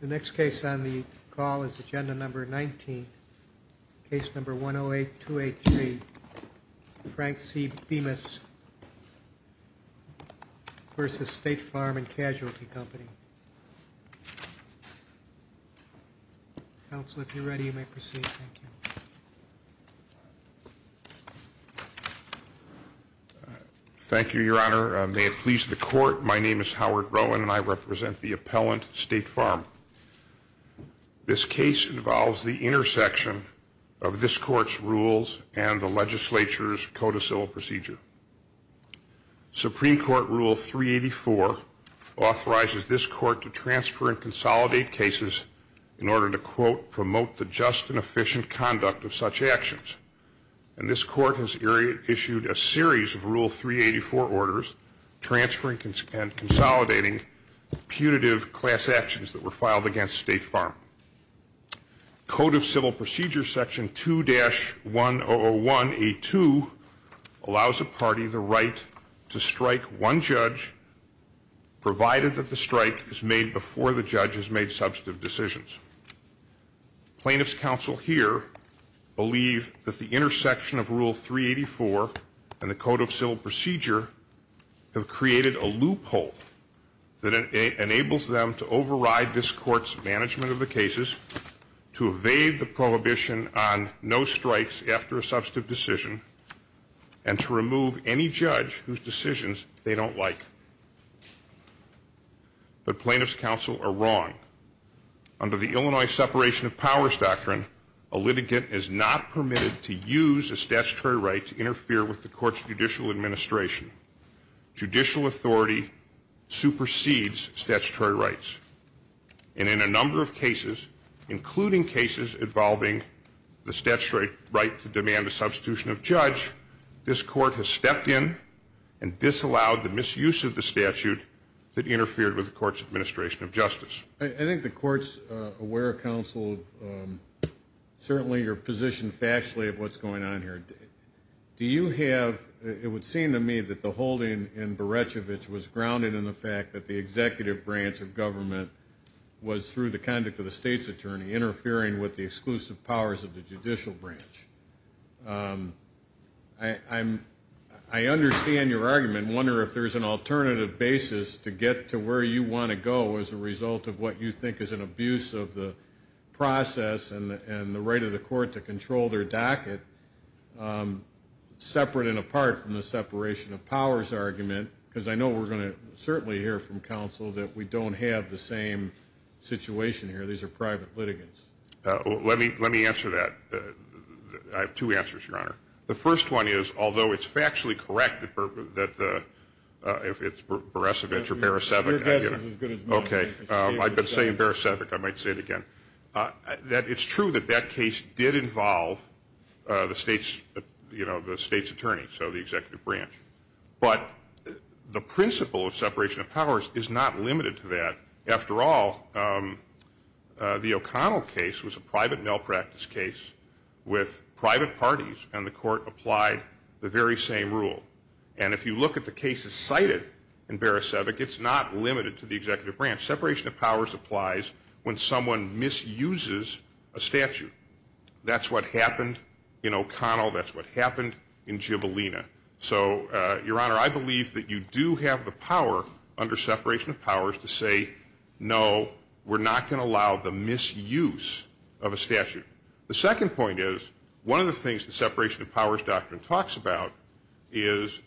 The next case on the call is agenda number 19, case number 108-283, Frank C. Bemis v. State Farm and Casualty Company. Counsel, if you're ready, you may proceed. Thank you. Thank you, your honor. May it please the court, my name is Howard Rowan and I represent the appellant, State Farm. This case involves the intersection of this court's rules and the legislature's code of civil procedure. Supreme Court Rule 384 authorizes this court to transfer and consolidate cases in order to, quote, promote the just and efficient conduct of such actions. And this court has issued a series of Rule 384 orders transferring and consolidating punitive class actions that were filed against State Farm. Code of Civil Procedure Section 2-101A2 allows a party the right to strike one judge provided that the strike is made before the judge has made substantive decisions. Plaintiff's counsel here believe that the intersection of Rule 384 and the Code of Civil Procedure have created a loophole that enables them to override this court's management of the cases, to evade the prohibition on no strikes after a substantive decision, and to remove any judge whose decisions they don't like. But plaintiff's counsel are wrong. Under the Illinois Separation of Powers Doctrine, a litigant is not permitted to use a statutory right to interfere with the court's judicial administration. Judicial authority supersedes statutory rights. And in a number of cases, including cases involving the statutory right to demand a substitution of judge, this court has stepped in and disallowed the misuse of the statute that interfered with the court's administration of justice. I think the court's aware of counsel, certainly you're positioned factually of what's going on here. Do you have, it would seem to me that the holding in Beretchevich was grounded in the fact that the executive branch of government was, through the conduct of the state's attorney, interfering with the exclusive powers of the judicial branch. I understand your argument and wonder if there's an alternative basis to get to where you want to go as a result of what you think is an abuse of the process and the right of the court to control their docket, separate and apart from the separation of powers argument, because I know we're going to certainly hear from counsel that we don't have the same situation here. These are private litigants. Let me answer that. I have two answers, Your Honor. The first one is, although it's factually correct that if it's Beretchevich or Beretchevich. Your guess is as good as mine. Okay. I've been saying Beretchevich. I might say it again. It's true that that case did involve the state's attorney, so the executive branch. But the principle of separation of powers is not limited to that. After all, the O'Connell case was a private malpractice case with private parties, and the court applied the very same rule. And if you look at the cases cited in Beretchevich, it's not limited to the executive branch. Separation of powers applies when someone misuses a statute. That's what happened in O'Connell. That's what happened in Gibellina. So, Your Honor, I believe that you do have the power under separation of powers to say, no, we're not going to allow the misuse of a statute. The second point is, one of the things the separation of powers doctrine talks about is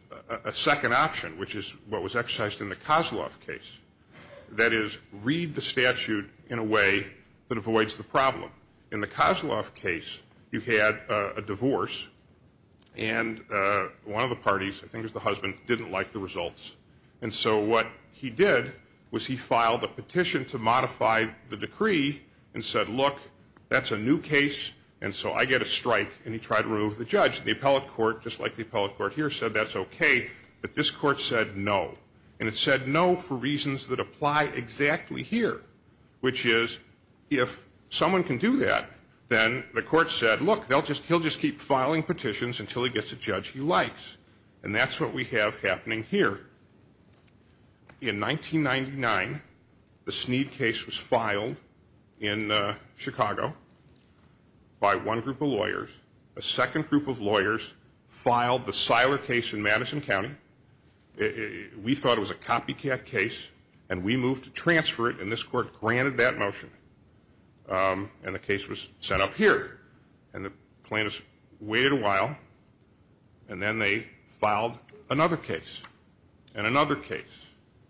a second option, which is what was exercised in the Kozloff case. That is, read the statute in a way that avoids the problem. In the Kozloff case, you had a divorce, and one of the parties, I think it was the husband, didn't like the results. And so what he did was he filed a petition to modify the decree and said, look, that's a new case, and so I get a strike, and he tried to remove the judge. And the appellate court, just like the appellate court here, said that's okay. But this court said no, and it said no for reasons that apply exactly here, which is, if someone can do that, then the court said, look, he'll just keep filing petitions until he gets a judge he likes. And that's what we have happening here. In 1999, the Sneed case was filed in Chicago by one group of lawyers. A second group of lawyers filed the Siler case in Madison County. We thought it was a copycat case, and we moved to transfer it, and this court granted that motion. And the case was sent up here. And the plaintiffs waited a while, and then they filed another case and another case.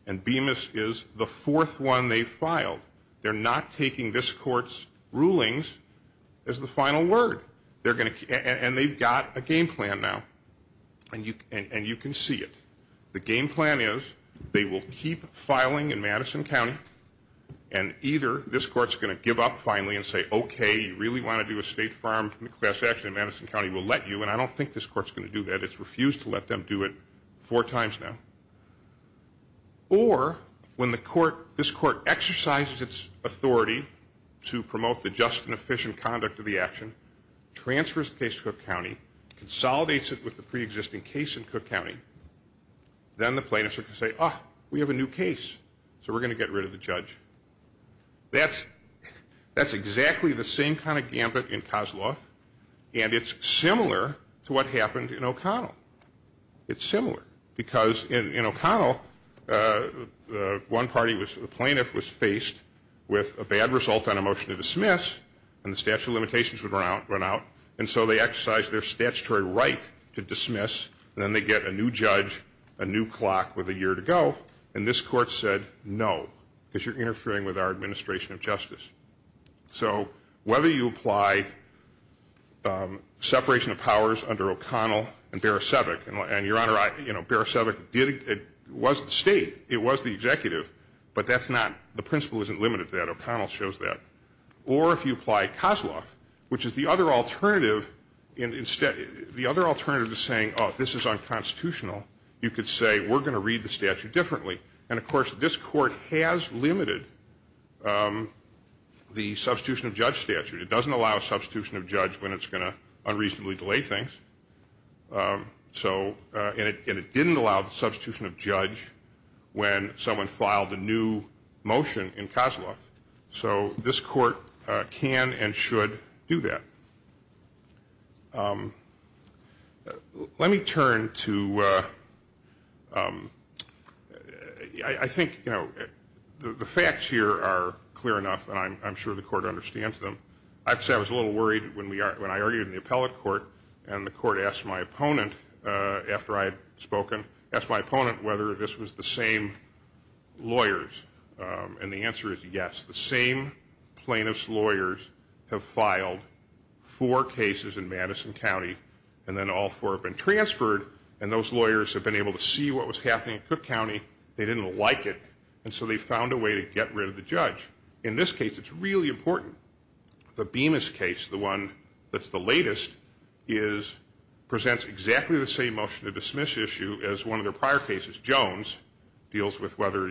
And Bemis is the fourth one they filed. They're not taking this court's rulings as the final word. And they've got a game plan now, and you can see it. The game plan is they will keep filing in Madison County, and either this court's going to give up finally and say, okay, you really want to do a state farm class action in Madison County, we'll let you, and I don't think this court's going to do that. It's refused to let them do it four times now. Or when this court exercises its authority to promote the just and efficient conduct of the action, transfers the case to Cook County, consolidates it with the preexisting case in Cook County, then the plaintiffs are going to say, oh, we have a new case, so we're going to get rid of the judge. That's exactly the same kind of gambit in Kozloff, and it's similar to what happened in O'Connell. It's similar, because in O'Connell, the plaintiff was faced with a bad result on a motion to dismiss, and the statute of limitations would run out, and so they exercised their statutory right to dismiss, and then they get a new judge, a new clock with a year to go, and this court said no, because you're interfering with our administration of justice. So whether you apply separation of powers under O'Connell and Beresovic, and, Your Honor, Beresovic was the state, it was the executive, but that's not, the principle isn't limited to that. O'Connell shows that. Or if you apply Kozloff, which is the other alternative, the other alternative to saying, oh, this is unconstitutional, you could say, we're going to read the statute differently, and, of course, this court has limited the substitution of judge statute. It doesn't allow a substitution of judge when it's going to unreasonably delay things, and it didn't allow the substitution of judge when someone filed a new motion in Kozloff. So this court can and should do that. Let me turn to, I think, you know, the facts here are clear enough, and I'm sure the court understands them. I have to say I was a little worried when I argued in the appellate court, and the court asked my opponent after I had spoken, asked my opponent whether this was the same lawyers, and the answer is yes. The same plaintiff's lawyers have filed four cases in Madison County, and then all four have been transferred, and those lawyers have been able to see what was happening in Cook County. They didn't like it, and so they found a way to get rid of the judge. In this case, it's really important. The Bemis case, the one that's the latest, presents exactly the same motion to dismiss issue as one of their prior cases. Jones deals with whether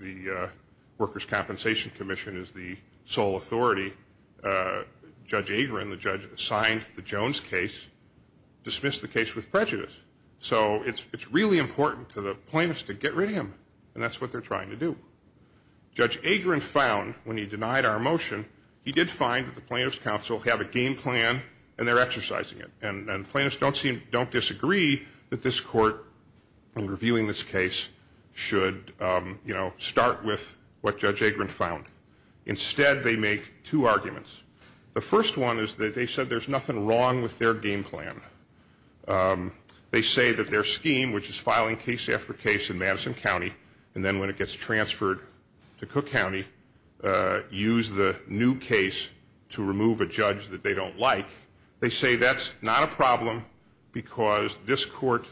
the Workers' Compensation Commission is the sole authority. Judge Agron, the judge that signed the Jones case, dismissed the case with prejudice. So it's really important to the plaintiffs to get rid of him, and that's what they're trying to do. Judge Agron found when he denied our motion, he did find that the plaintiffs' counsel have a game plan and they're exercising it, and the plaintiffs don't disagree that this court, in reviewing this case, should start with what Judge Agron found. Instead, they make two arguments. The first one is that they said there's nothing wrong with their game plan. They say that their scheme, which is filing case after case in Madison County, and then when it gets transferred to Cook County, use the new case to remove a judge that they don't like. They say that's not a problem because this court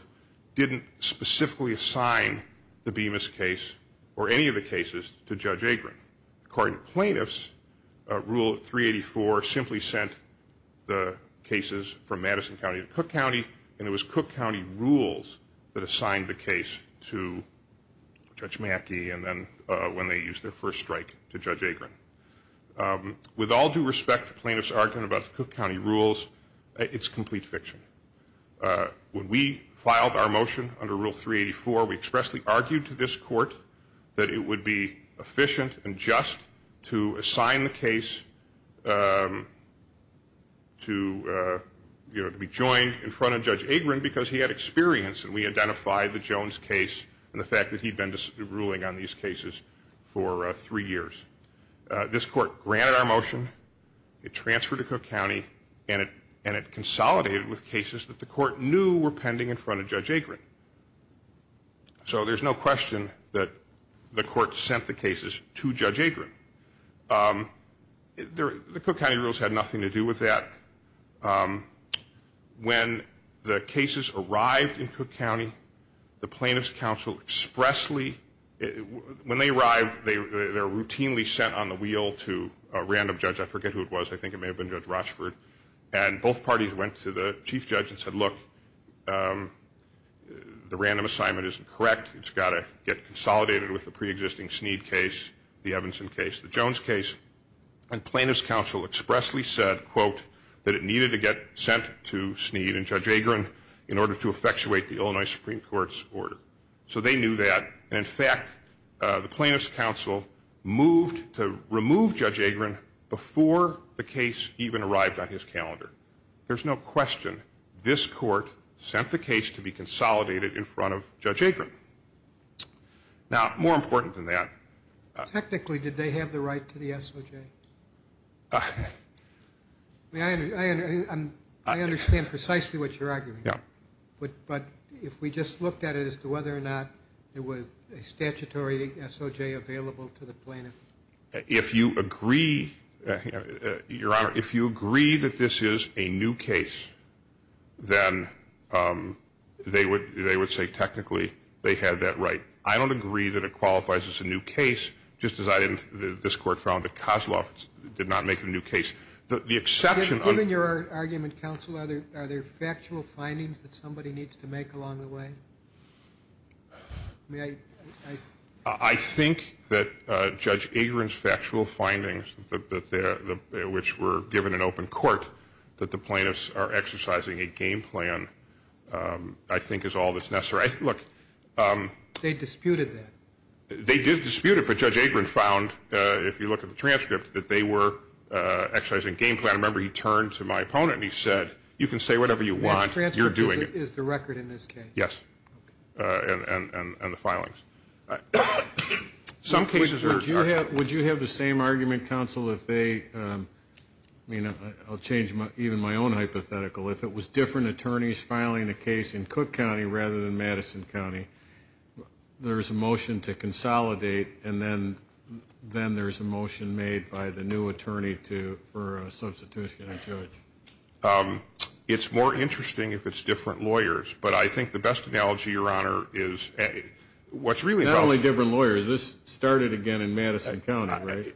didn't specifically assign the Bemis case or any of the cases to Judge Agron. According to plaintiffs, Rule 384 simply sent the cases from Madison County to Cook County, and it was Cook County rules that assigned the case to Judge Mackey and then when they used their first strike to Judge Agron. With all due respect to plaintiffs' argument about the Cook County rules, it's complete fiction. When we filed our motion under Rule 384, we expressly argued to this court that it would be efficient and just to assign the case to be joined in front of Judge Agron because he had experience and we identified the Jones case and the fact that he'd been ruling on these cases for three years. This court granted our motion, it transferred to Cook County, and it consolidated with cases that the court knew were pending in front of Judge Agron. So there's no question that the court sent the cases to Judge Agron. The Cook County rules had nothing to do with that. When the cases arrived in Cook County, the plaintiffs' counsel expressly, when they arrived, they were routinely sent on the wheel to a random judge, I forget who it was, I think it may have been Judge Rochford, and both parties went to the chief judge and said, look, the random assignment isn't correct, it's got to get consolidated with the pre-existing Sneed case, the Evanson case, the Jones case, and plaintiffs' counsel expressly said, quote, that it needed to get sent to Sneed and Judge Agron in order to effectuate the Illinois Supreme Court's order. So they knew that and, in fact, the plaintiffs' counsel moved to remove Judge Agron before the case even arrived on his calendar. There's no question this court sent the case to be consolidated in front of Judge Agron. Now, more important than that. Technically, did they have the right to the SOJ? I understand precisely what you're arguing, but if we just looked at it as to whether or not there was a statutory SOJ available to the plaintiff. If you agree, Your Honor, if you agree that this is a new case, then they would say technically they had that right. I don't agree that it qualifies as a new case, just as this court found that Kosloff did not make a new case. Given your argument, counsel, are there factual findings that somebody needs to make along the way? I think that Judge Agron's factual findings, which were given in open court, that the plaintiffs are exercising a game plan, I think, is all that's necessary. They disputed that. They did dispute it, but Judge Agron found, if you look at the transcript, that they were exercising game plan. I remember he turned to my opponent and he said, you can say whatever you want, you're doing it. The transcript is the record in this case? Yes, and the filings. Would you have the same argument, counsel, if they, I'll change even my own hypothetical, if it was different attorneys filing a case in Cook County rather than Madison County, there's a motion to consolidate and then there's a motion made by the new attorney for a substitutionary judge? It's more interesting if it's different lawyers, but I think the best analogy, Your Honor, is what's really helpful. Not only different lawyers. This started again in Madison County, right?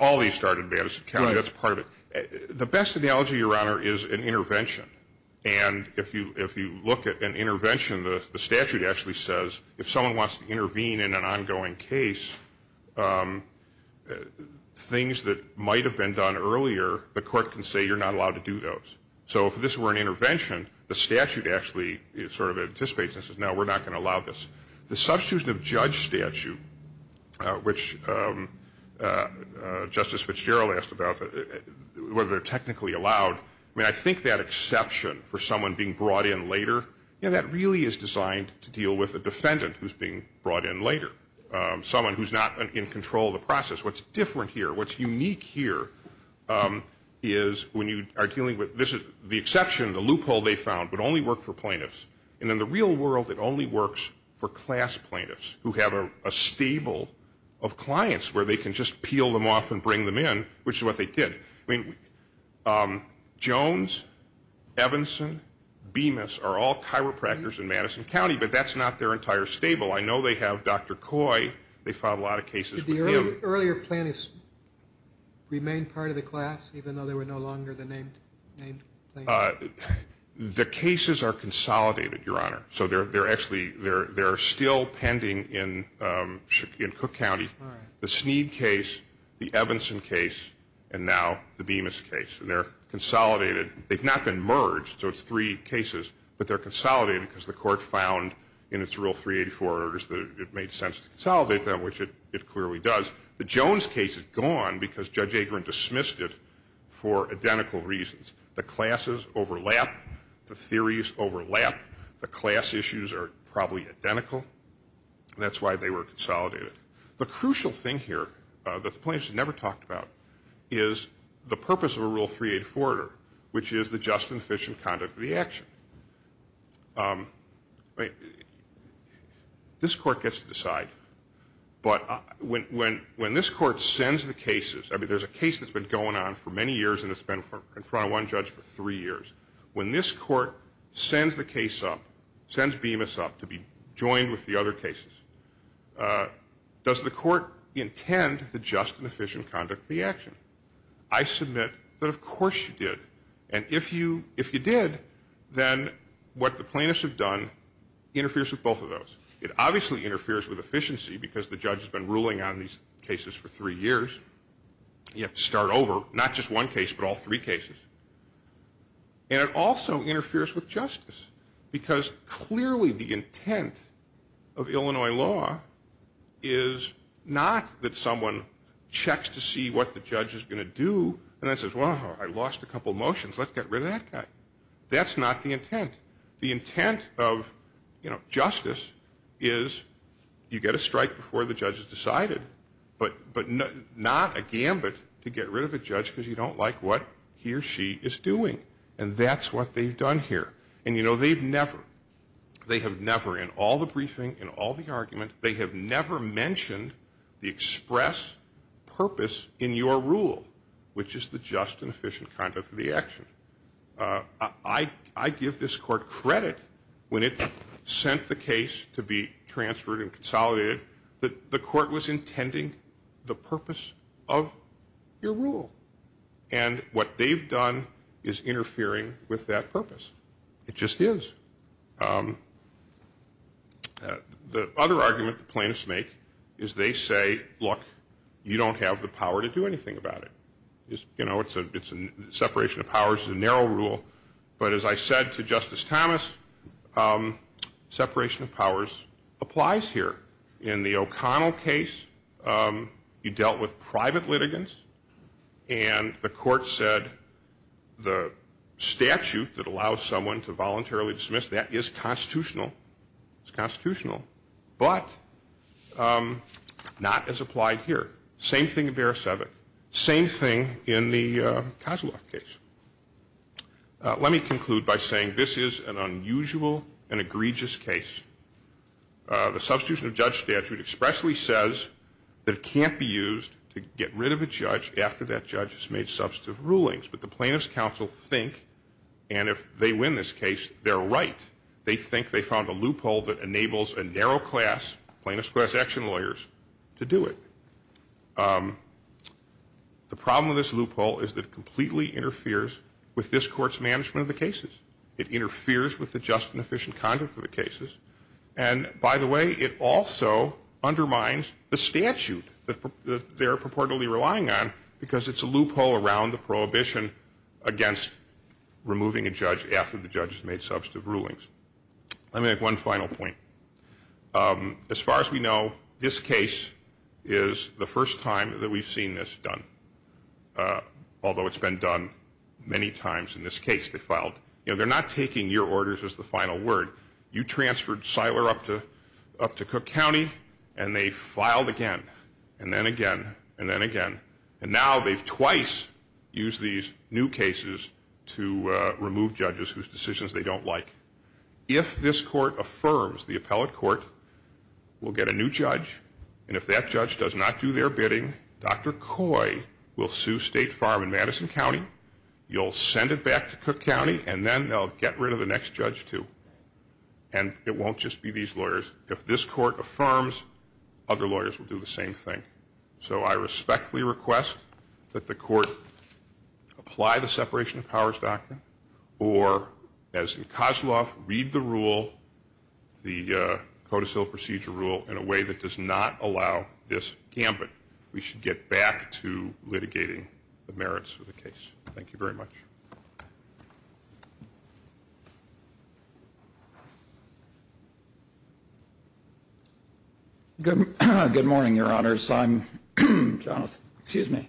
All of these started in Madison County. That's part of it. The best analogy, Your Honor, is an intervention, and if you look at an intervention, the statute actually says if someone wants to intervene in an ongoing case, things that might have been done earlier, the court can say you're not allowed to do those. So if this were an intervention, the statute actually sort of anticipates this and says, no, we're not going to allow this. The substitution of judge statute, which Justice Fitzgerald asked about, whether they're technically allowed, I mean, I think that exception for someone being brought in later, you know, that really is designed to deal with a defendant who's being brought in later, someone who's not in control of the process. What's different here, what's unique here is when you are dealing with the exception, the loophole they found would only work for plaintiffs. And in the real world, it only works for class plaintiffs who have a stable of clients where they can just peel them off and bring them in, which is what they did. I mean, Jones, Evanson, Bemis are all chiropractors in Madison County, but that's not their entire stable. I know they have Dr. Coy. They filed a lot of cases with him. Earlier plaintiffs remained part of the class, even though they were no longer the named plaintiffs? The cases are consolidated, Your Honor. So they're actually still pending in Cook County, the Sneed case, the Evanson case, and now the Bemis case. And they're consolidated. They've not been merged, so it's three cases, but they're consolidated because the court found in its rule 384 that it made sense to consolidate them, which it clearly does. The Jones case is gone because Judge Agerin dismissed it for identical reasons. The classes overlap. The theories overlap. The class issues are probably identical, and that's why they were consolidated. The crucial thing here that the plaintiffs never talked about is the purpose of a rule 384 order, which is the just and efficient conduct of the action. This court gets to decide. But when this court sends the cases, I mean, there's a case that's been going on for many years, and it's been in front of one judge for three years. When this court sends the case up, sends Bemis up to be joined with the other cases, does the court intend the just and efficient conduct of the action? I submit that, of course, you did. And if you did, then what the plaintiffs have done interferes with both of those. It obviously interferes with efficiency because the judge has been ruling on these cases for three years. You have to start over, not just one case but all three cases. And it also interferes with justice because clearly the intent of Illinois law is not that someone checks to see what the judge is going to do and then says, well, I lost a couple motions, let's get rid of that guy. That's not the intent. The intent of justice is you get a strike before the judge has decided, but not a gambit to get rid of a judge because you don't like what he or she is doing. And that's what they've done here. And, you know, they've never, they have never in all the briefing, in all the argument, they have never mentioned the express purpose in your rule, which is the just and efficient conduct of the action. I give this court credit when it sent the case to be transferred and consolidated that the court was intending the purpose of your rule. And what they've done is interfering with that purpose. It just is. The other argument the plaintiffs make is they say, look, you don't have the power to do anything about it. You know, separation of powers is a narrow rule. But as I said to Justice Thomas, separation of powers applies here. In the O'Connell case, you dealt with private litigants, and the court said the statute that allows someone to voluntarily dismiss that is constitutional. It's constitutional, but not as applied here. Same thing in Beresovic. Same thing in the Kozlov case. Let me conclude by saying this is an unusual and egregious case. The substitution of judge statute expressly says that it can't be used to get rid of a judge after that judge has made substantive rulings. But the plaintiffs' counsel think, and if they win this case, they're right. They think they found a loophole that enables a narrow class, plaintiffs' class action lawyers, to do it. The problem with this loophole is that it completely interferes with this court's management of the cases. It interferes with the just and efficient conduct of the cases. And, by the way, it also undermines the statute that they're purportedly relying on because it's a loophole around the prohibition against removing a judge after the judge has made substantive rulings. Let me make one final point. As far as we know, this case is the first time that we've seen this done, although it's been done many times in this case. You know, they're not taking your orders as the final word. You transferred Seiler up to Cook County, and they filed again and then again and then again. And now they've twice used these new cases to remove judges whose decisions they don't like. If this court affirms the appellate court will get a new judge, and if that judge does not do their bidding, Dr. Coy will sue State Farm in Madison County. You'll send it back to Cook County, and then they'll get rid of the next judge too. And it won't just be these lawyers. If this court affirms, other lawyers will do the same thing. So I respectfully request that the court apply the separation of powers doctrine or, as in Kozloff, read the rule, the codicil procedure rule, in a way that does not allow this gambit. We should get back to litigating the merits of the case. Thank you very much. Good morning, Your Honors. I'm Jonathan, excuse me.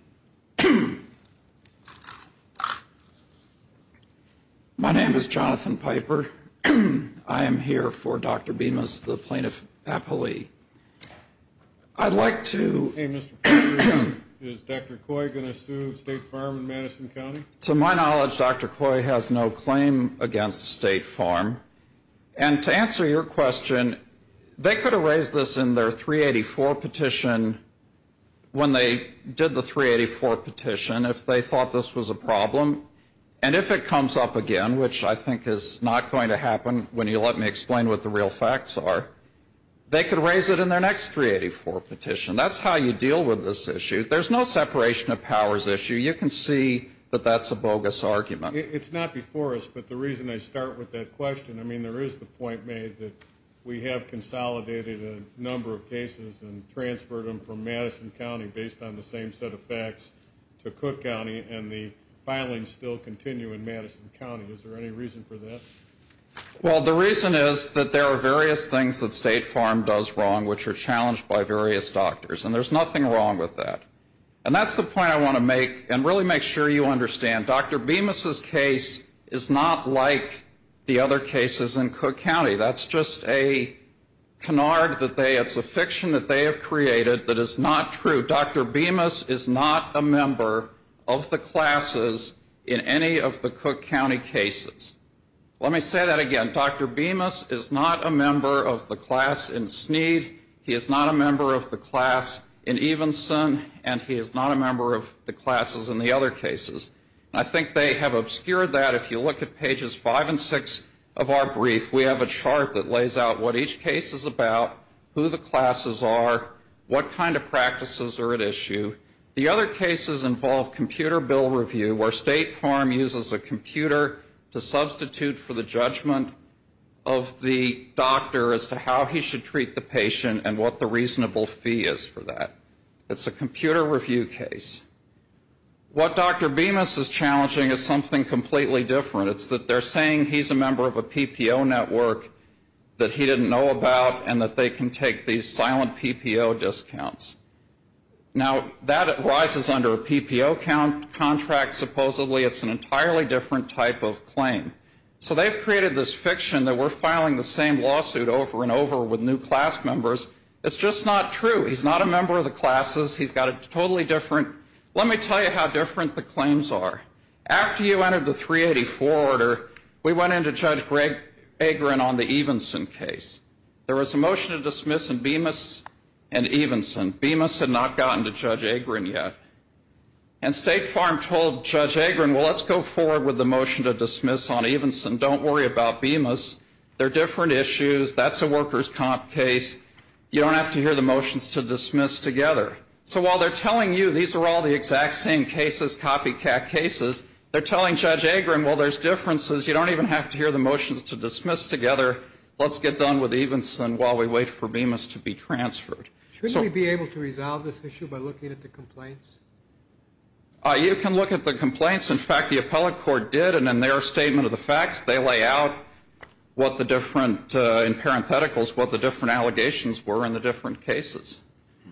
My name is Jonathan Piper. I am here for Dr. Bemis, the plaintiff appellee. I'd like to. Hey, Mr. Piper, is Dr. Coy going to sue State Farm in Madison County? To my knowledge, Dr. Coy has no claim against State Farm. And to answer your question, they could have raised this in their 384 petition, when they did the 384 petition, if they thought this was a problem. And if it comes up again, which I think is not going to happen when you let me explain what the real facts are, they could raise it in their next 384 petition. That's how you deal with this issue. There's no separation of powers issue. You can see that that's a bogus argument. It's not before us, but the reason I start with that question, I mean, there is the point made that we have consolidated a number of cases and transferred them from Madison County based on the same set of facts to Cook County, and the filings still continue in Madison County. Is there any reason for that? Well, the reason is that there are various things that State Farm does wrong, which are challenged by various doctors. And there's nothing wrong with that. And that's the point I want to make, and really make sure you understand. Dr. Bemis' case is not like the other cases in Cook County. That's just a canard that they, it's a fiction that they have created that is not true. Dr. Bemis is not a member of the classes in any of the Cook County cases. Let me say that again. Dr. Bemis is not a member of the class in Sneed. He is not a member of the class in Evenson. And he is not a member of the classes in the other cases. I think they have obscured that. If you look at Pages 5 and 6 of our brief, we have a chart that lays out what each case is about, who the classes are, what kind of practices are at issue. The other cases involve computer bill review, where State Farm uses a computer to substitute for the judgment of the doctor as to how he should treat the patient and what the reasonable fee is for that. It's a computer review case. What Dr. Bemis is challenging is something completely different. It's that they're saying he's a member of a PPO network that he didn't know about and that they can take these silent PPO discounts. Now, that arises under a PPO contract, supposedly. It's an entirely different type of claim. So they've created this fiction that we're filing the same lawsuit over and over with new class members. It's just not true. He's not a member of the classes. He's got a totally different. Let me tell you how different the claims are. After you entered the 384 order, we went into Judge Greg Agrin on the Evenson case. There was a motion to dismiss in Bemis and Evenson. Bemis had not gotten to Judge Agrin yet. And State Farm told Judge Agrin, well, let's go forward with the motion to dismiss on Evenson. Don't worry about Bemis. They're different issues. That's a workers' comp case. You don't have to hear the motions to dismiss together. So while they're telling you these are all the exact same cases, copycat cases, they're telling Judge Agrin, well, there's differences. You don't even have to hear the motions to dismiss together. Let's get done with Evenson while we wait for Bemis to be transferred. Shouldn't we be able to resolve this issue by looking at the complaints? You can look at the complaints. In fact, the appellate court did, and in their statement of the facts, they lay out what the different, in parentheticals, what the different allegations were in the different cases.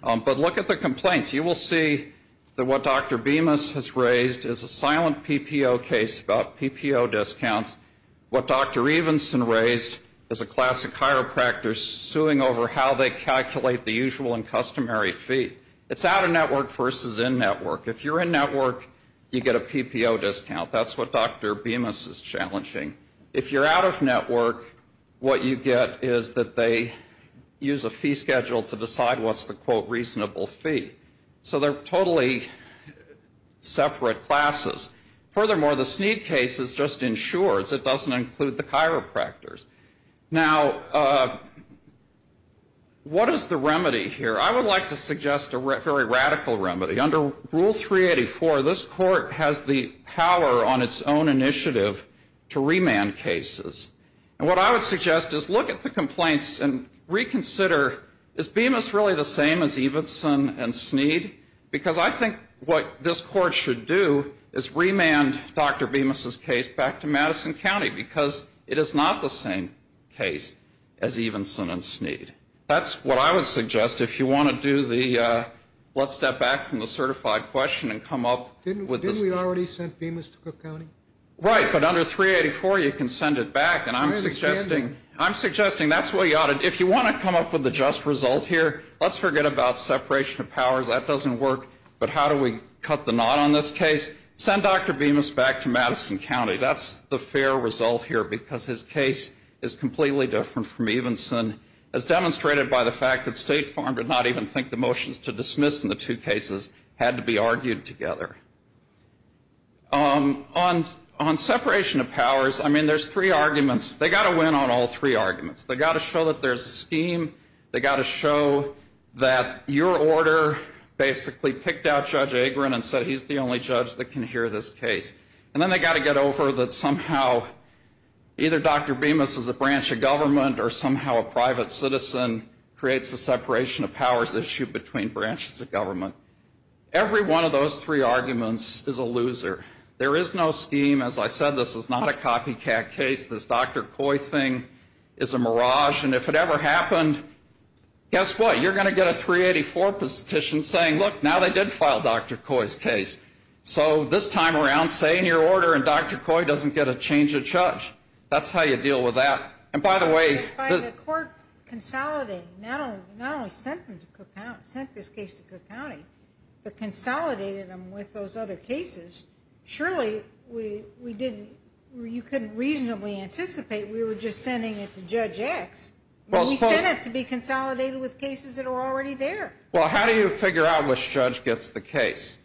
But look at the complaints. You will see that what Dr. Bemis has raised is a silent PPO case about PPO discounts. What Dr. Evenson raised is a classic chiropractor suing over how they calculate the usual and customary fee. It's out-of-network versus in-network. If you're in-network, you get a PPO discount. That's what Dr. Bemis is challenging. If you're out-of-network, what you get is that they use a fee schedule to decide what's the, quote, reasonable fee. So they're totally separate classes. Furthermore, the Sneed case just ensures it doesn't include the chiropractors. Now, what is the remedy here? I would like to suggest a very radical remedy. Under Rule 384, this court has the power on its own initiative to remand cases. And what I would suggest is look at the complaints and reconsider, is Bemis really the same as Evenson and Sneed? Because I think what this court should do is remand Dr. Bemis' case back to Madison County because it is not the same case as Evenson and Sneed. That's what I would suggest. If you want to do the let's step back from the certified question and come up with this. Didn't we already send Bemis to Cook County? Right, but under 384, you can send it back. And I'm suggesting that's what you ought to do. If you want to come up with a just result here, let's forget about separation of powers. That doesn't work. But how do we cut the knot on this case? Send Dr. Bemis back to Madison County. That's the fair result here because his case is completely different from Evenson, as demonstrated by the fact that State Farm did not even think the motions to dismiss in the two cases had to be argued together. On separation of powers, I mean, there's three arguments. They've got to win on all three arguments. They've got to show that there's a scheme. They've got to show that your order basically picked out Judge Agron and said he's the only judge that can hear this case. And then they've got to get over that somehow either Dr. Bemis is a branch of government or somehow a private citizen creates a separation of powers issue between branches of government. Every one of those three arguments is a loser. There is no scheme. As I said, this is not a copycat case. This Dr. Coy thing is a mirage. And if it ever happened, guess what? You're going to get a 384 petition saying, look, now they did file Dr. Coy's case. So this time around, say in your order and Dr. Coy doesn't get a change of judge. That's how you deal with that. And by the way, the court consolidated, not only sent this case to Cook County, but consolidated them with those other cases. Surely you couldn't reasonably anticipate we were just sending it to Judge X. We sent it to be consolidated with cases that are already there. Well, how do you figure out which judge gets the case?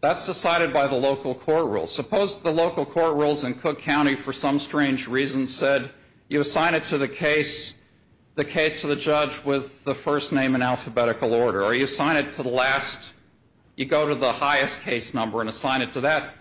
That's decided by the local court rules. Suppose the local court rules in Cook County for some strange reason said you assign it to the case, the case to the judge with the first name in alphabetical order. Or you assign it to the last, you go to the highest case number and assign it to that.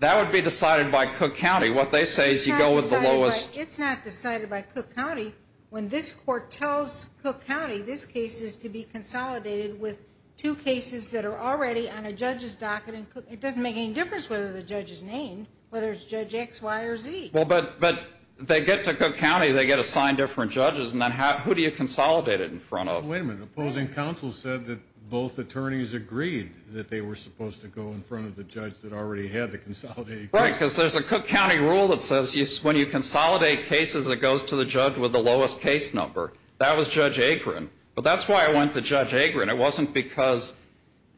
That would be decided by Cook County. What they say is you go with the lowest. But it's not decided by Cook County. When this court tells Cook County this case is to be consolidated with two cases that are already on a judge's docket. It doesn't make any difference whether the judge is named, whether it's Judge X, Y, or Z. But they get to Cook County, they get assigned different judges, and then who do you consolidate it in front of? Wait a minute. Opposing counsel said that both attorneys agreed that they were supposed to go in front of the judge that already had the consolidated case. Right, because there's a Cook County rule that says when you consolidate cases, it goes to the judge with the lowest case number. That was Judge Agron. But that's why I went to Judge Agron. It wasn't because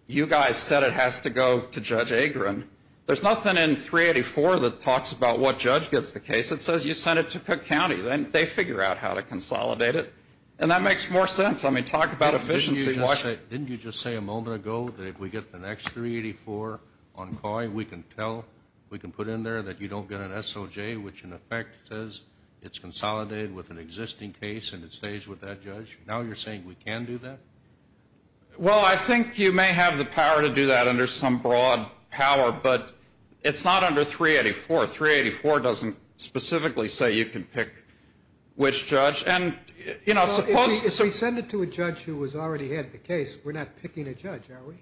you guys said it has to go to Judge Agron. There's nothing in 384 that talks about what judge gets the case. It says you send it to Cook County. Then they figure out how to consolidate it. And that makes more sense. I mean, talk about efficiency. Didn't you just say a moment ago that if we get the next 384 on COI, we can tell, we can put in there that you don't get an SOJ, which in effect says it's consolidated with an existing case and it stays with that judge? Now you're saying we can do that? Well, I think you may have the power to do that under some broad power, but it's not under 384. 384 doesn't specifically say you can pick which judge. If we send it to a judge who has already had the case, we're not picking a judge, are we?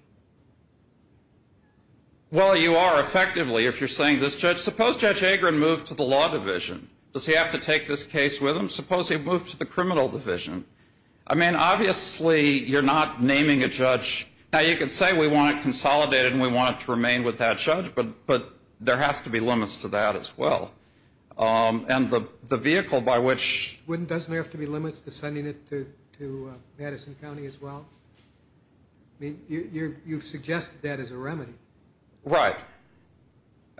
Well, you are effectively if you're saying this, Judge. Suppose Judge Agron moved to the law division. Does he have to take this case with him? Suppose he moved to the criminal division. I mean, obviously you're not naming a judge. Now you can say we want it consolidated and we want it to remain with that judge, but there has to be limits to that as well. And the vehicle by which... Doesn't there have to be limits to sending it to Madison County as well? I mean, you've suggested that as a remedy. Right.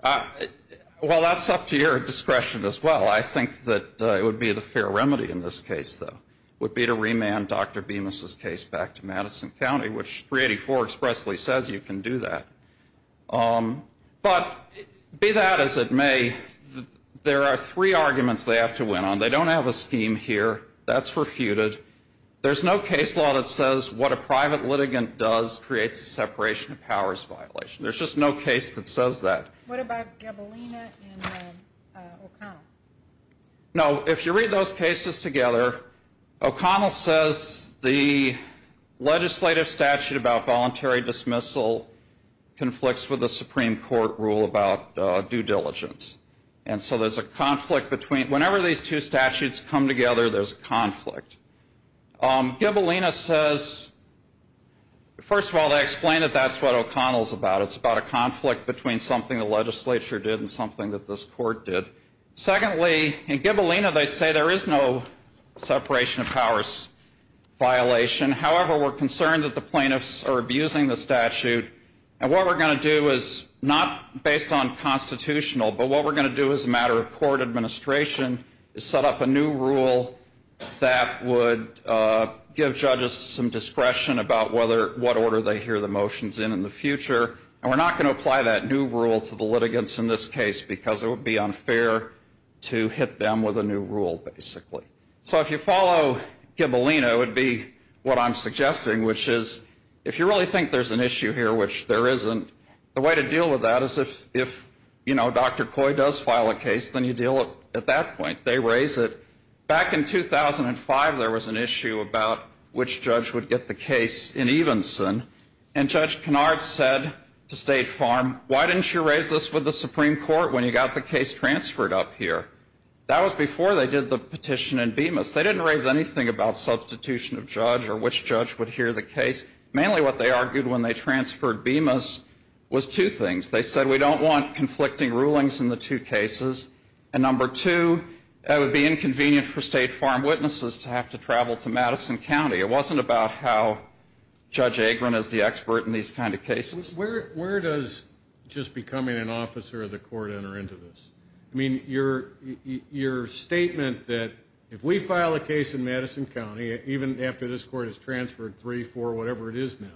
Well, that's up to your discretion as well. I think that it would be the fair remedy in this case, though, would be to remand Dr. Bemis' case back to Madison County, which 384 expressly says you can do that. But be that as it may, there are three arguments they have to win on. They don't have a scheme here. That's refuted. There's no case law that says what a private litigant does creates a separation of powers violation. There's just no case that says that. What about Gabalina and O'Connell? No, if you read those cases together, O'Connell says the legislative statute about voluntary dismissal conflicts with the Supreme Court rule about due diligence. And so there's a conflict between... Whenever these two statutes come together, there's a conflict. Gabalina says... First of all, they explain that that's what O'Connell's about. It's about a conflict between something the legislature did and something that this court did. Secondly, in Gabalina, they say there is no separation of powers violation. However, we're concerned that the plaintiffs are abusing the statute. And what we're going to do is not based on constitutional, but what we're going to do as a matter of court administration is set up a new rule that would give judges some discretion about what order they hear the motions in in the future. And we're not going to apply that new rule to the litigants in this case because it would be unfair to hit them with a new rule, basically. So if you follow Gabalina, it would be what I'm suggesting, which is if you really think there's an issue here, which there isn't, the way to deal with that is if Dr. Coy does file a case, then you deal at that point. They raise it. Back in 2005, there was an issue about which judge would get the case in Evenson. And Judge Kennard said to State Farm, why didn't you raise this with the Supreme Court when you got the case transferred up here? That was before they did the petition in Bemis. They didn't raise anything about substitution of judge or which judge would hear the case. Mainly what they argued when they transferred Bemis was two things. They said we don't want conflicting rulings in the two cases. And number two, it would be inconvenient for State Farm witnesses to have to travel to Madison County. It wasn't about how Judge Agron is the expert in these kind of cases. Where does just becoming an officer of the court enter into this? I mean, your statement that if we file a case in Madison County, even after this court has transferred three, four, whatever it is now,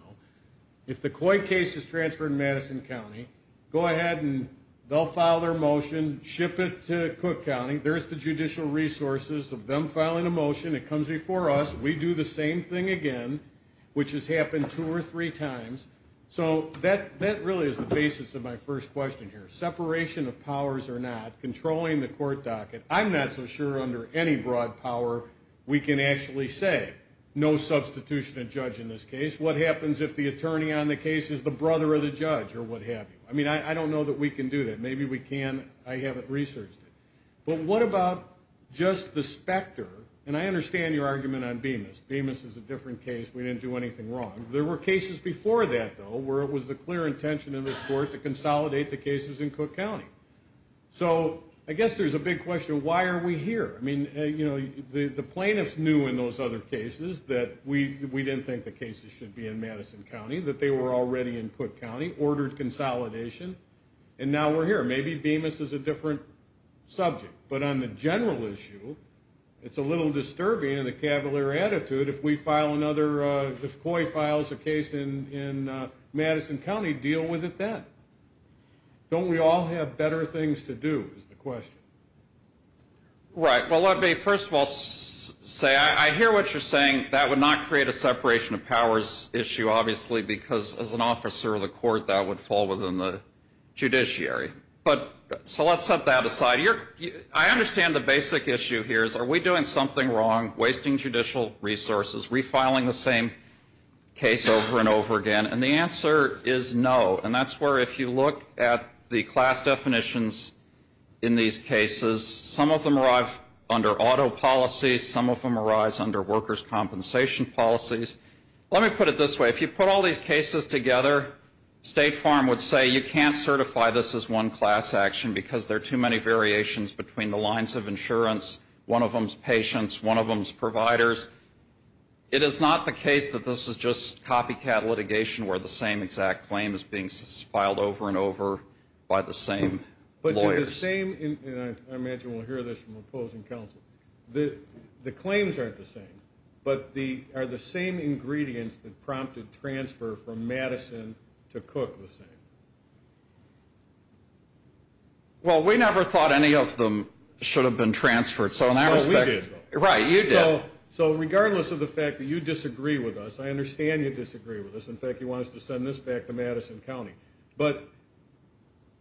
if the Coy case is transferred in Madison County, go ahead and they'll file their motion, ship it to Cook County, there's the judicial resources of them filing a motion. It comes before us. We do the same thing again, which has happened two or three times. So that really is the basis of my first question here. Separation of powers or not, controlling the court docket. I'm not so sure under any broad power we can actually say no substitution of judge in this case. What happens if the attorney on the case is the brother of the judge or what have you? I mean, I don't know that we can do that. Maybe we can. I haven't researched it. But what about just the specter? And I understand your argument on Bemis. Bemis is a different case. We didn't do anything wrong. There were cases before that, though, where it was the clear intention of this court to consolidate the cases in Cook County. So I guess there's a big question, why are we here? I mean, you know, the plaintiffs knew in those other cases that we didn't think the cases should be in Madison County, that they were already in Cook County, ordered consolidation, and now we're here. Maybe Bemis is a different subject. But on the general issue, it's a little disturbing in the Cavalier attitude if we file another, if Coy files a case in Madison County, deal with it then. Don't we all have better things to do is the question. Right. Well, let me first of all say I hear what you're saying. That would not create a separation of powers issue, obviously, because as an officer of the court that would fall within the judiciary. So let's set that aside. I understand the basic issue here is are we doing something wrong, wasting judicial resources, refiling the same case over and over again? And the answer is no. And that's where if you look at the class definitions in these cases, some of them arrive under auto policies, some of them arise under workers' compensation policies. Let me put it this way. If you put all these cases together, State Farm would say you can't certify this as one class action because there are too many variations between the lines of insurance, one of them's patients, one of them's providers. It is not the case that this is just copycat litigation where the same exact claim is being filed over and over by the same lawyers. But the same, and I imagine we'll hear this from opposing counsel, the claims aren't the same, but are the same ingredients that prompted transfer from Madison to Cook the same. Well, we never thought any of them should have been transferred. So in that respect. Well, we did, though. Right, you did. So regardless of the fact that you disagree with us, I understand you disagree with us. In fact, he wants to send this back to Madison County. But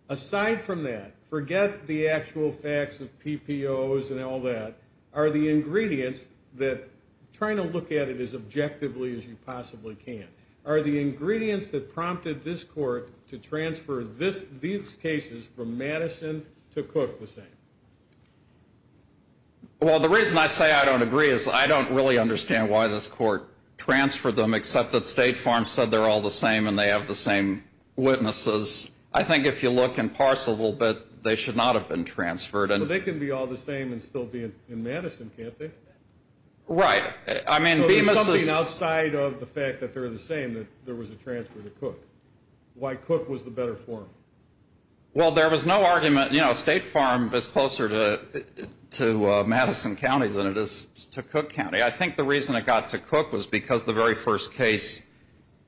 aside from that, forget the actual facts of PPOs and all that. Are the ingredients that, trying to look at it as objectively as you possibly can, are the ingredients that prompted this court to transfer these cases from Madison to Cook the same? Well, the reason I say I don't agree is I don't really understand why this court transferred them except that State Farm said they're all the same and they have the same witnesses. I think if you look in parcel a little bit, they should not have been transferred. So they can be all the same and still be in Madison, can't they? Right. So there's something outside of the fact that they're the same that there was a transfer to Cook. Why Cook was the better forum? Well, there was no argument. State Farm is closer to Madison County than it is to Cook County. I think the reason it got to Cook was because the very first case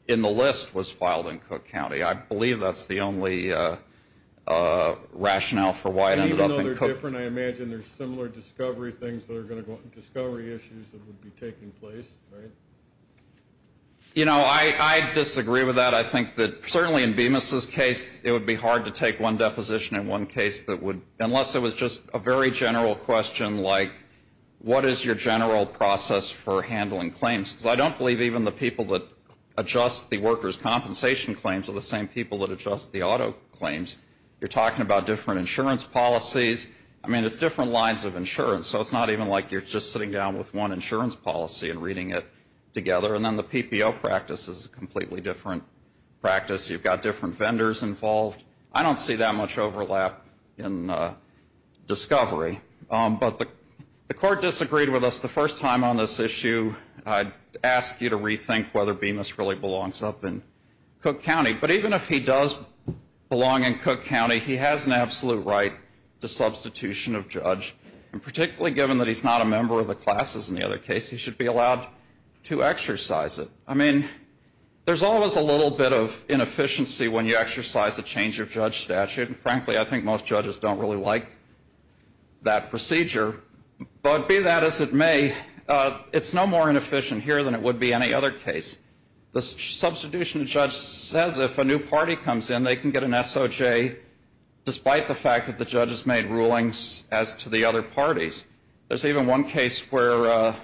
in the list was filed in Cook County. I believe that's the only rationale for why it ended up in Cook. Even though they're different, I imagine there's similar discovery issues that would be taking place, right? You know, I disagree with that. I think that certainly in Bemis's case it would be hard to take one deposition in one case unless it was just a very general question like, what is your general process for handling claims? Because I don't believe even the people that adjust the workers' compensation claims are the same people that adjust the auto claims. You're talking about different insurance policies. I mean, it's different lines of insurance, so it's not even like you're just sitting down with one insurance policy and reading it together. And then the PPO practice is a completely different practice. You've got different vendors involved. I don't see that much overlap in discovery. But the court disagreed with us the first time on this issue. I'd ask you to rethink whether Bemis really belongs up in Cook County. But even if he does belong in Cook County, he has an absolute right to substitution of judge. And particularly given that he's not a member of the classes in the other case, he should be allowed to exercise it. I mean, there's always a little bit of inefficiency when you exercise a change of judge statute. And frankly, I think most judges don't really like that procedure. But be that as it may, it's no more inefficient here than it would be any other case. The substitution judge says if a new party comes in, they can get an SOJ, despite the fact that the judge has made rulings as to the other parties. There's even one case where a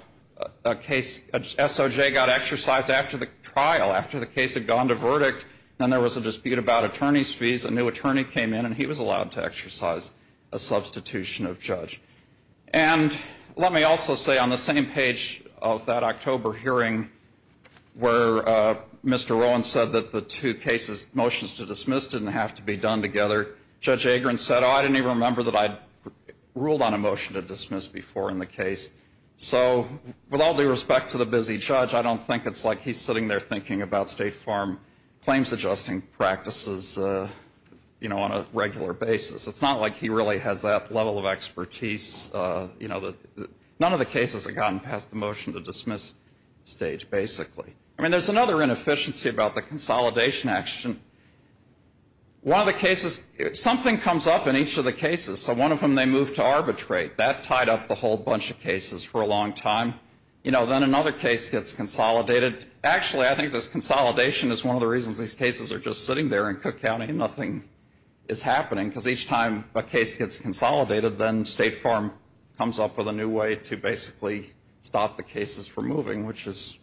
SOJ got exercised after the trial, after the case had gone to verdict, and there was a dispute about attorney's fees. A new attorney came in, and he was allowed to exercise a substitution of judge. And let me also say on the same page of that October hearing where Mr. Rowan said that the two cases, motions to dismiss didn't have to be done together, said, oh, I didn't even remember that I ruled on a motion to dismiss before in the case. So with all due respect to the busy judge, I don't think it's like he's sitting there thinking about State Farm claims adjusting practices on a regular basis. It's not like he really has that level of expertise. None of the cases have gotten past the motion to dismiss stage, basically. I mean, there's another inefficiency about the consolidation action. One of the cases, something comes up in each of the cases. So one of them they moved to arbitrate. That tied up the whole bunch of cases for a long time. You know, then another case gets consolidated. Actually, I think this consolidation is one of the reasons these cases are just sitting there in Cook County and nothing is happening, because each time a case gets consolidated, then State Farm comes up with a new way to basically stop the cases from moving, which is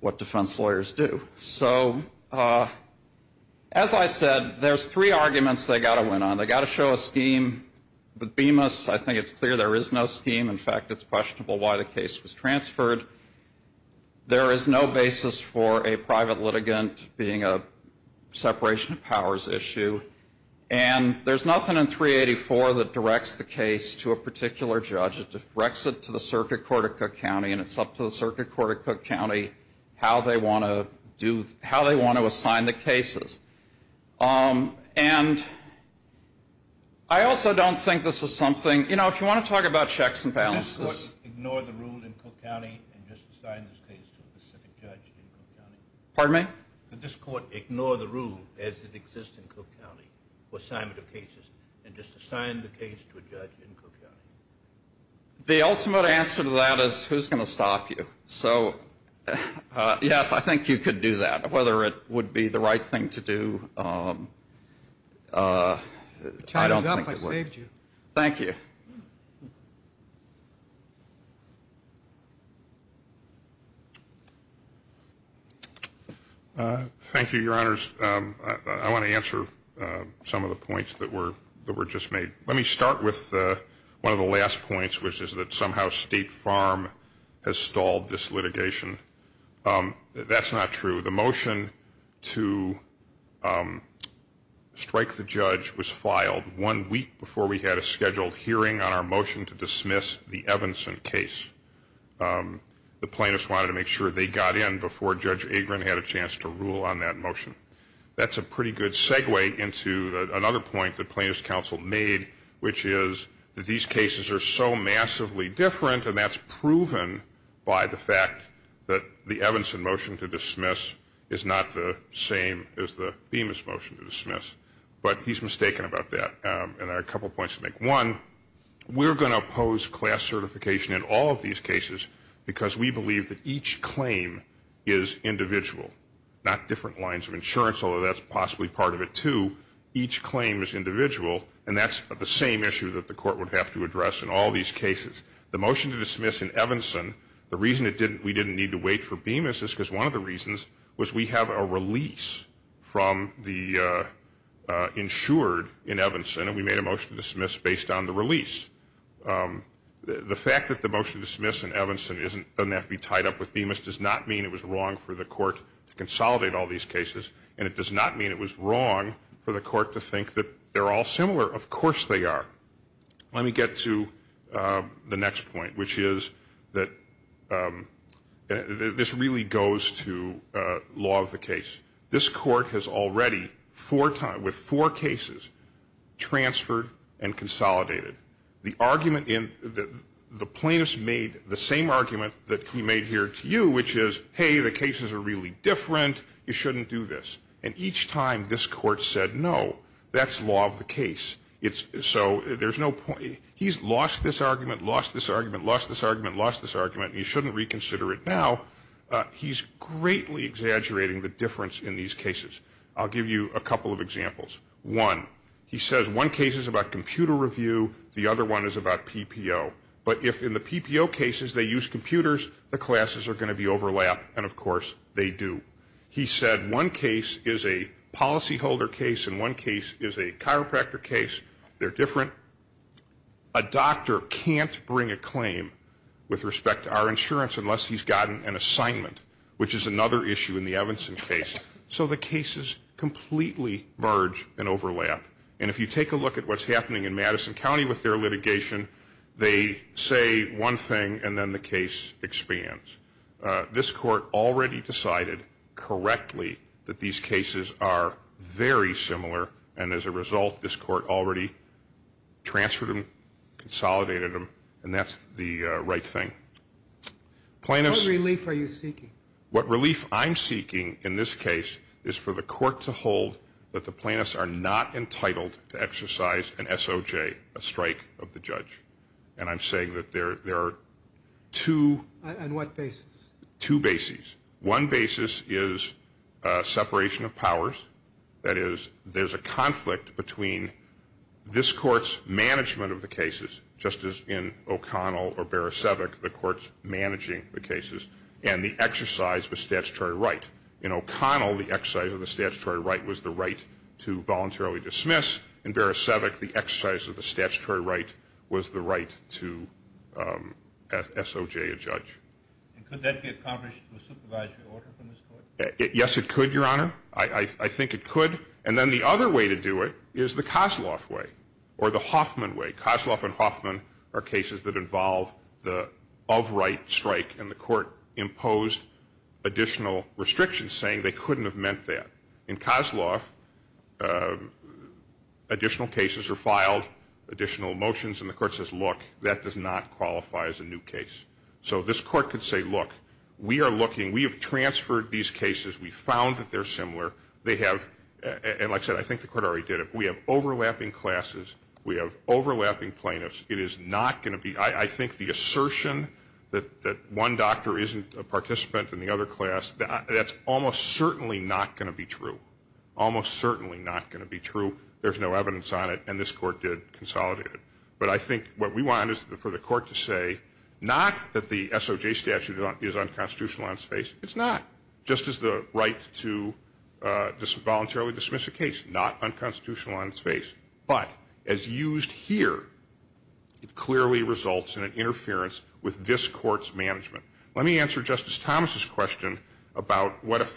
what defense lawyers do. So as I said, there's three arguments they've got to win on. They've got to show a scheme. With Bemis, I think it's clear there is no scheme. In fact, it's questionable why the case was transferred. There is no basis for a private litigant being a separation of powers issue. And there's nothing in 384 that directs the case to a particular judge. It directs it to the circuit court of Cook County, and it's up to the circuit court of Cook County how they want to assign the cases. And I also don't think this is something, you know, if you want to talk about checks and balances. Could this court ignore the rule in Cook County and just assign this case to a specific judge in Cook County? Pardon me? Could this court ignore the rule as it exists in Cook County for assignment of cases and just assign the case to a judge in Cook County? The ultimate answer to that is who's going to stop you? So, yes, I think you could do that. Whether it would be the right thing to do, I don't think it would. Time is up. I saved you. Thank you. Thank you, Your Honors. I want to answer some of the points that were just made. Let me start with one of the last points, which is that somehow State Farm has stalled this litigation. That's not true. The motion to strike the judge was filed one week before we had a scheduled hearing on our motion to dismiss the Evanson case. The plaintiffs wanted to make sure they got in before Judge Agrin had a chance to rule on that motion. That's a pretty good segue into another point that plaintiffs' counsel made, which is that these cases are so massively different, and that's proven by the fact that the Evanson motion to dismiss is not the same as the Bemis motion to dismiss. But he's mistaken about that, and there are a couple points to make. One, we're going to oppose class certification in all of these cases because we believe that each claim is individual, not different lines of insurance, although that's possibly part of it, too. Each claim is individual, and that's the same issue that the court would have to address in all these cases. The motion to dismiss in Evanson, the reason we didn't need to wait for Bemis is because one of the reasons was we have a release from the insured in Evanson, and we made a motion to dismiss based on the release. The fact that the motion to dismiss in Evanson doesn't have to be tied up with Bemis does not mean it was wrong for the court to consolidate all these cases, and it does not mean it was wrong for the court to think that they're all similar. Of course they are. Let me get to the next point, which is that this really goes to law of the case. This court has already, with four cases, transferred and consolidated. The plaintiff's made the same argument that he made here to you, which is, hey, the cases are really different. You shouldn't do this. And each time this court said no, that's law of the case. So there's no point. He's lost this argument, lost this argument, lost this argument, lost this argument, and he shouldn't reconsider it now. He's greatly exaggerating the difference in these cases. I'll give you a couple of examples. One, he says one case is about computer review, the other one is about PPO. But if in the PPO cases they use computers, the classes are going to be overlapped, and, of course, they do. He said one case is a policyholder case and one case is a chiropractor case. They're different. A doctor can't bring a claim with respect to our insurance unless he's gotten an assignment, which is another issue in the Evanson case. So the cases completely merge and overlap. And if you take a look at what's happening in Madison County with their litigation, they say one thing and then the case expands. This court already decided correctly that these cases are very similar, and as a result this court already transferred them, consolidated them, and that's the right thing. Plaintiffs What relief are you seeking? In this case is for the court to hold that the plaintiffs are not entitled to exercise an SOJ, a strike of the judge. And I'm saying that there are two. And what basis? Two bases. One basis is separation of powers. That is, there's a conflict between this court's management of the cases, just as in O'Connell the court's managing the cases, and the exercise of a statutory right. In O'Connell, the exercise of the statutory right was the right to voluntarily dismiss. In Barasevic, the exercise of the statutory right was the right to SOJ a judge. And could that be accomplished with supervisory order from this court? Yes, it could, Your Honor. I think it could. And then the other way to do it is the Kosloff way or the Hoffman way. Kosloff and Hoffman are cases that involve the of right strike, and the court imposed additional restrictions saying they couldn't have meant that. In Kosloff, additional cases are filed, additional motions, and the court says, look, that does not qualify as a new case. So this court could say, look, we are looking. We have transferred these cases. We found that they're similar. They have, and like I said, I think the court already did it. We have overlapping classes. We have overlapping plaintiffs. It is not going to be, I think the assertion that one doctor isn't a participant in the other class, that's almost certainly not going to be true. Almost certainly not going to be true. There's no evidence on it, and this court did consolidate it. But I think what we want is for the court to say not that the SOJ statute is unconstitutional on its face. It's not. Just as the right to voluntarily dismiss a case, not unconstitutional on its face. But as used here, it clearly results in an interference with this court's management. Let me answer Justice Thomas' question about what if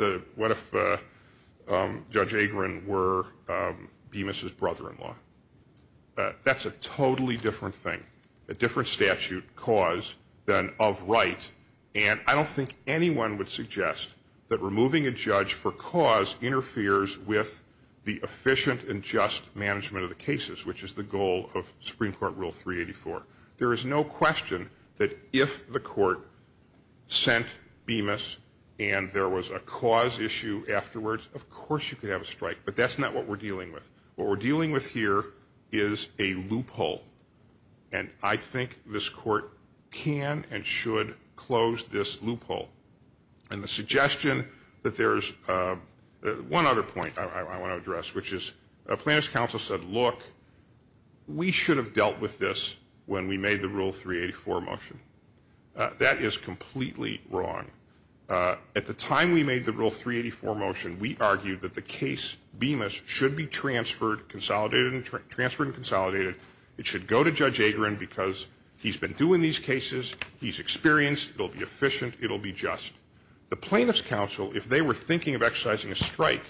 Judge Agron were Bemis' brother-in-law. That's a totally different thing, a different statute, cause, than of right. And I don't think anyone would suggest that removing a judge for cause interferes with the efficient and just management of the cases, which is the goal of Supreme Court Rule 384. There is no question that if the court sent Bemis and there was a cause issue afterwards, of course you could have a strike. But that's not what we're dealing with. What we're dealing with here is a loophole. And I think this court can and should close this loophole. And the suggestion that there's one other point I want to address, which is Plaintiff's counsel said, look, we should have dealt with this when we made the Rule 384 motion. That is completely wrong. At the time we made the Rule 384 motion, we argued that the case Bemis should be transferred, consolidated and transferred and consolidated. It should go to Judge Agron because he's been doing these cases. He's experienced. It'll be efficient. It'll be just. The Plaintiff's counsel, if they were thinking of exercising a strike,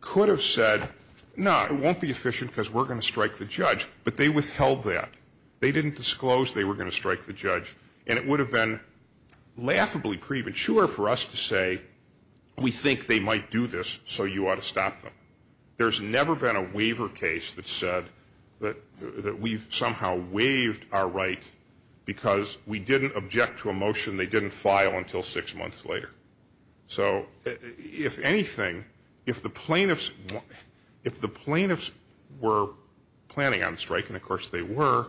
could have said, no, it won't be efficient because we're going to strike the judge. But they withheld that. They didn't disclose they were going to strike the judge. And it would have been laughably premature for us to say, we think they might do this, so you ought to stop them. There's never been a waiver case that said that we've somehow waived our right because we didn't object to a motion they didn't file until six months later. So if anything, if the Plaintiffs were planning on striking, of course they were,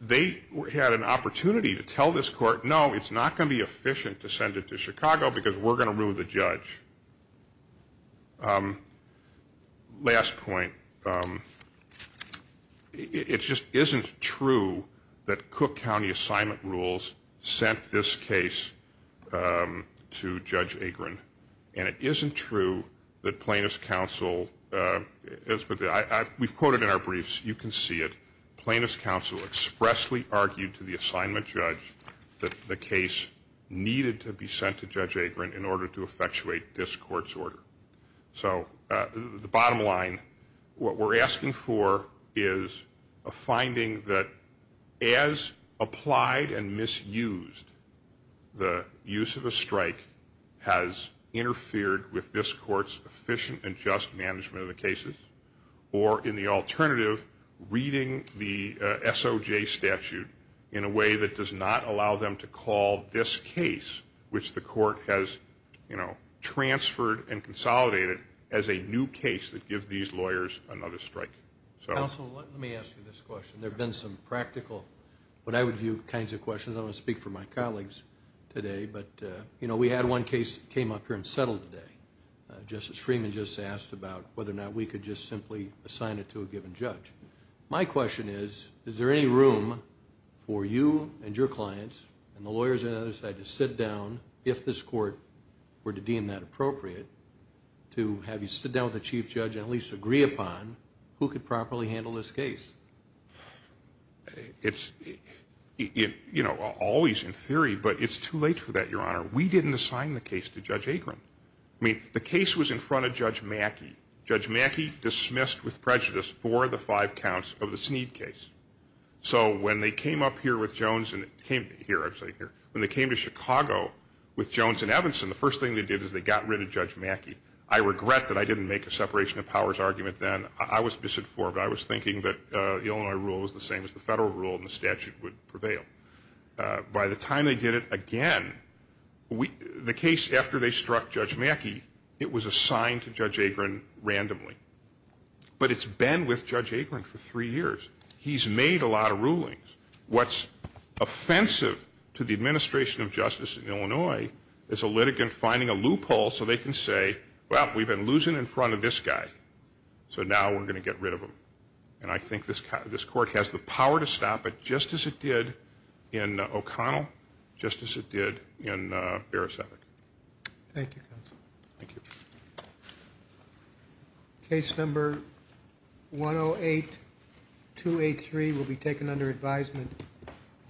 they had an opportunity to tell this court, no, it's not going to be efficient to send it to Chicago because we're going to rule the judge. Last point. It just isn't true that Cook County assignment rules sent this case to Judge Agron. And it isn't true that Plaintiffs' counsel, we've quoted in our briefs, you can see it, that Plaintiffs' counsel expressly argued to the assignment judge that the case needed to be sent to Judge Agron in order to effectuate this court's order. So the bottom line, what we're asking for is a finding that as applied and misused, the use of a strike has interfered with this court's efficient and just management of the cases, or in the alternative, reading the SOJ statute in a way that does not allow them to call this case, which the court has transferred and consolidated, as a new case that gives these lawyers another strike. Counsel, let me ask you this question. There have been some practical, what I would view, kinds of questions. I don't want to speak for my colleagues today, but we had one case that came up here and settled today. Justice Freeman just asked about whether or not we could just simply assign it to a given judge. My question is, is there any room for you and your clients and the lawyers on the other side to sit down, if this court were to deem that appropriate, to have you sit down with the chief judge and at least agree upon who could properly handle this case? It's, you know, always in theory, but it's too late for that, Your Honor. We didn't assign the case to Judge Akron. I mean, the case was in front of Judge Mackey. Judge Mackey dismissed with prejudice four of the five counts of the Sneed case. So when they came up here with Jones and came here, I'm sorry, here. When they came to Chicago with Jones and Evanson, the first thing they did is they got rid of Judge Mackey. I regret that I didn't make a separation of powers argument then. I was disinformed. I was thinking that the Illinois rule was the same as the federal rule and the statute would prevail. By the time they did it again, the case after they struck Judge Mackey, it was assigned to Judge Akron randomly. But it's been with Judge Akron for three years. He's made a lot of rulings. What's offensive to the administration of justice in Illinois is a litigant finding a loophole so they can say, well, we've been losing in front of this guy, so now we're going to get rid of him. And I think this court has the power to stop it just as it did in O'Connell, just as it did in Bereset. Thank you, counsel. Thank you. Case number 108283 will be taken under advisement.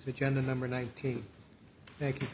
Thank you, counsel.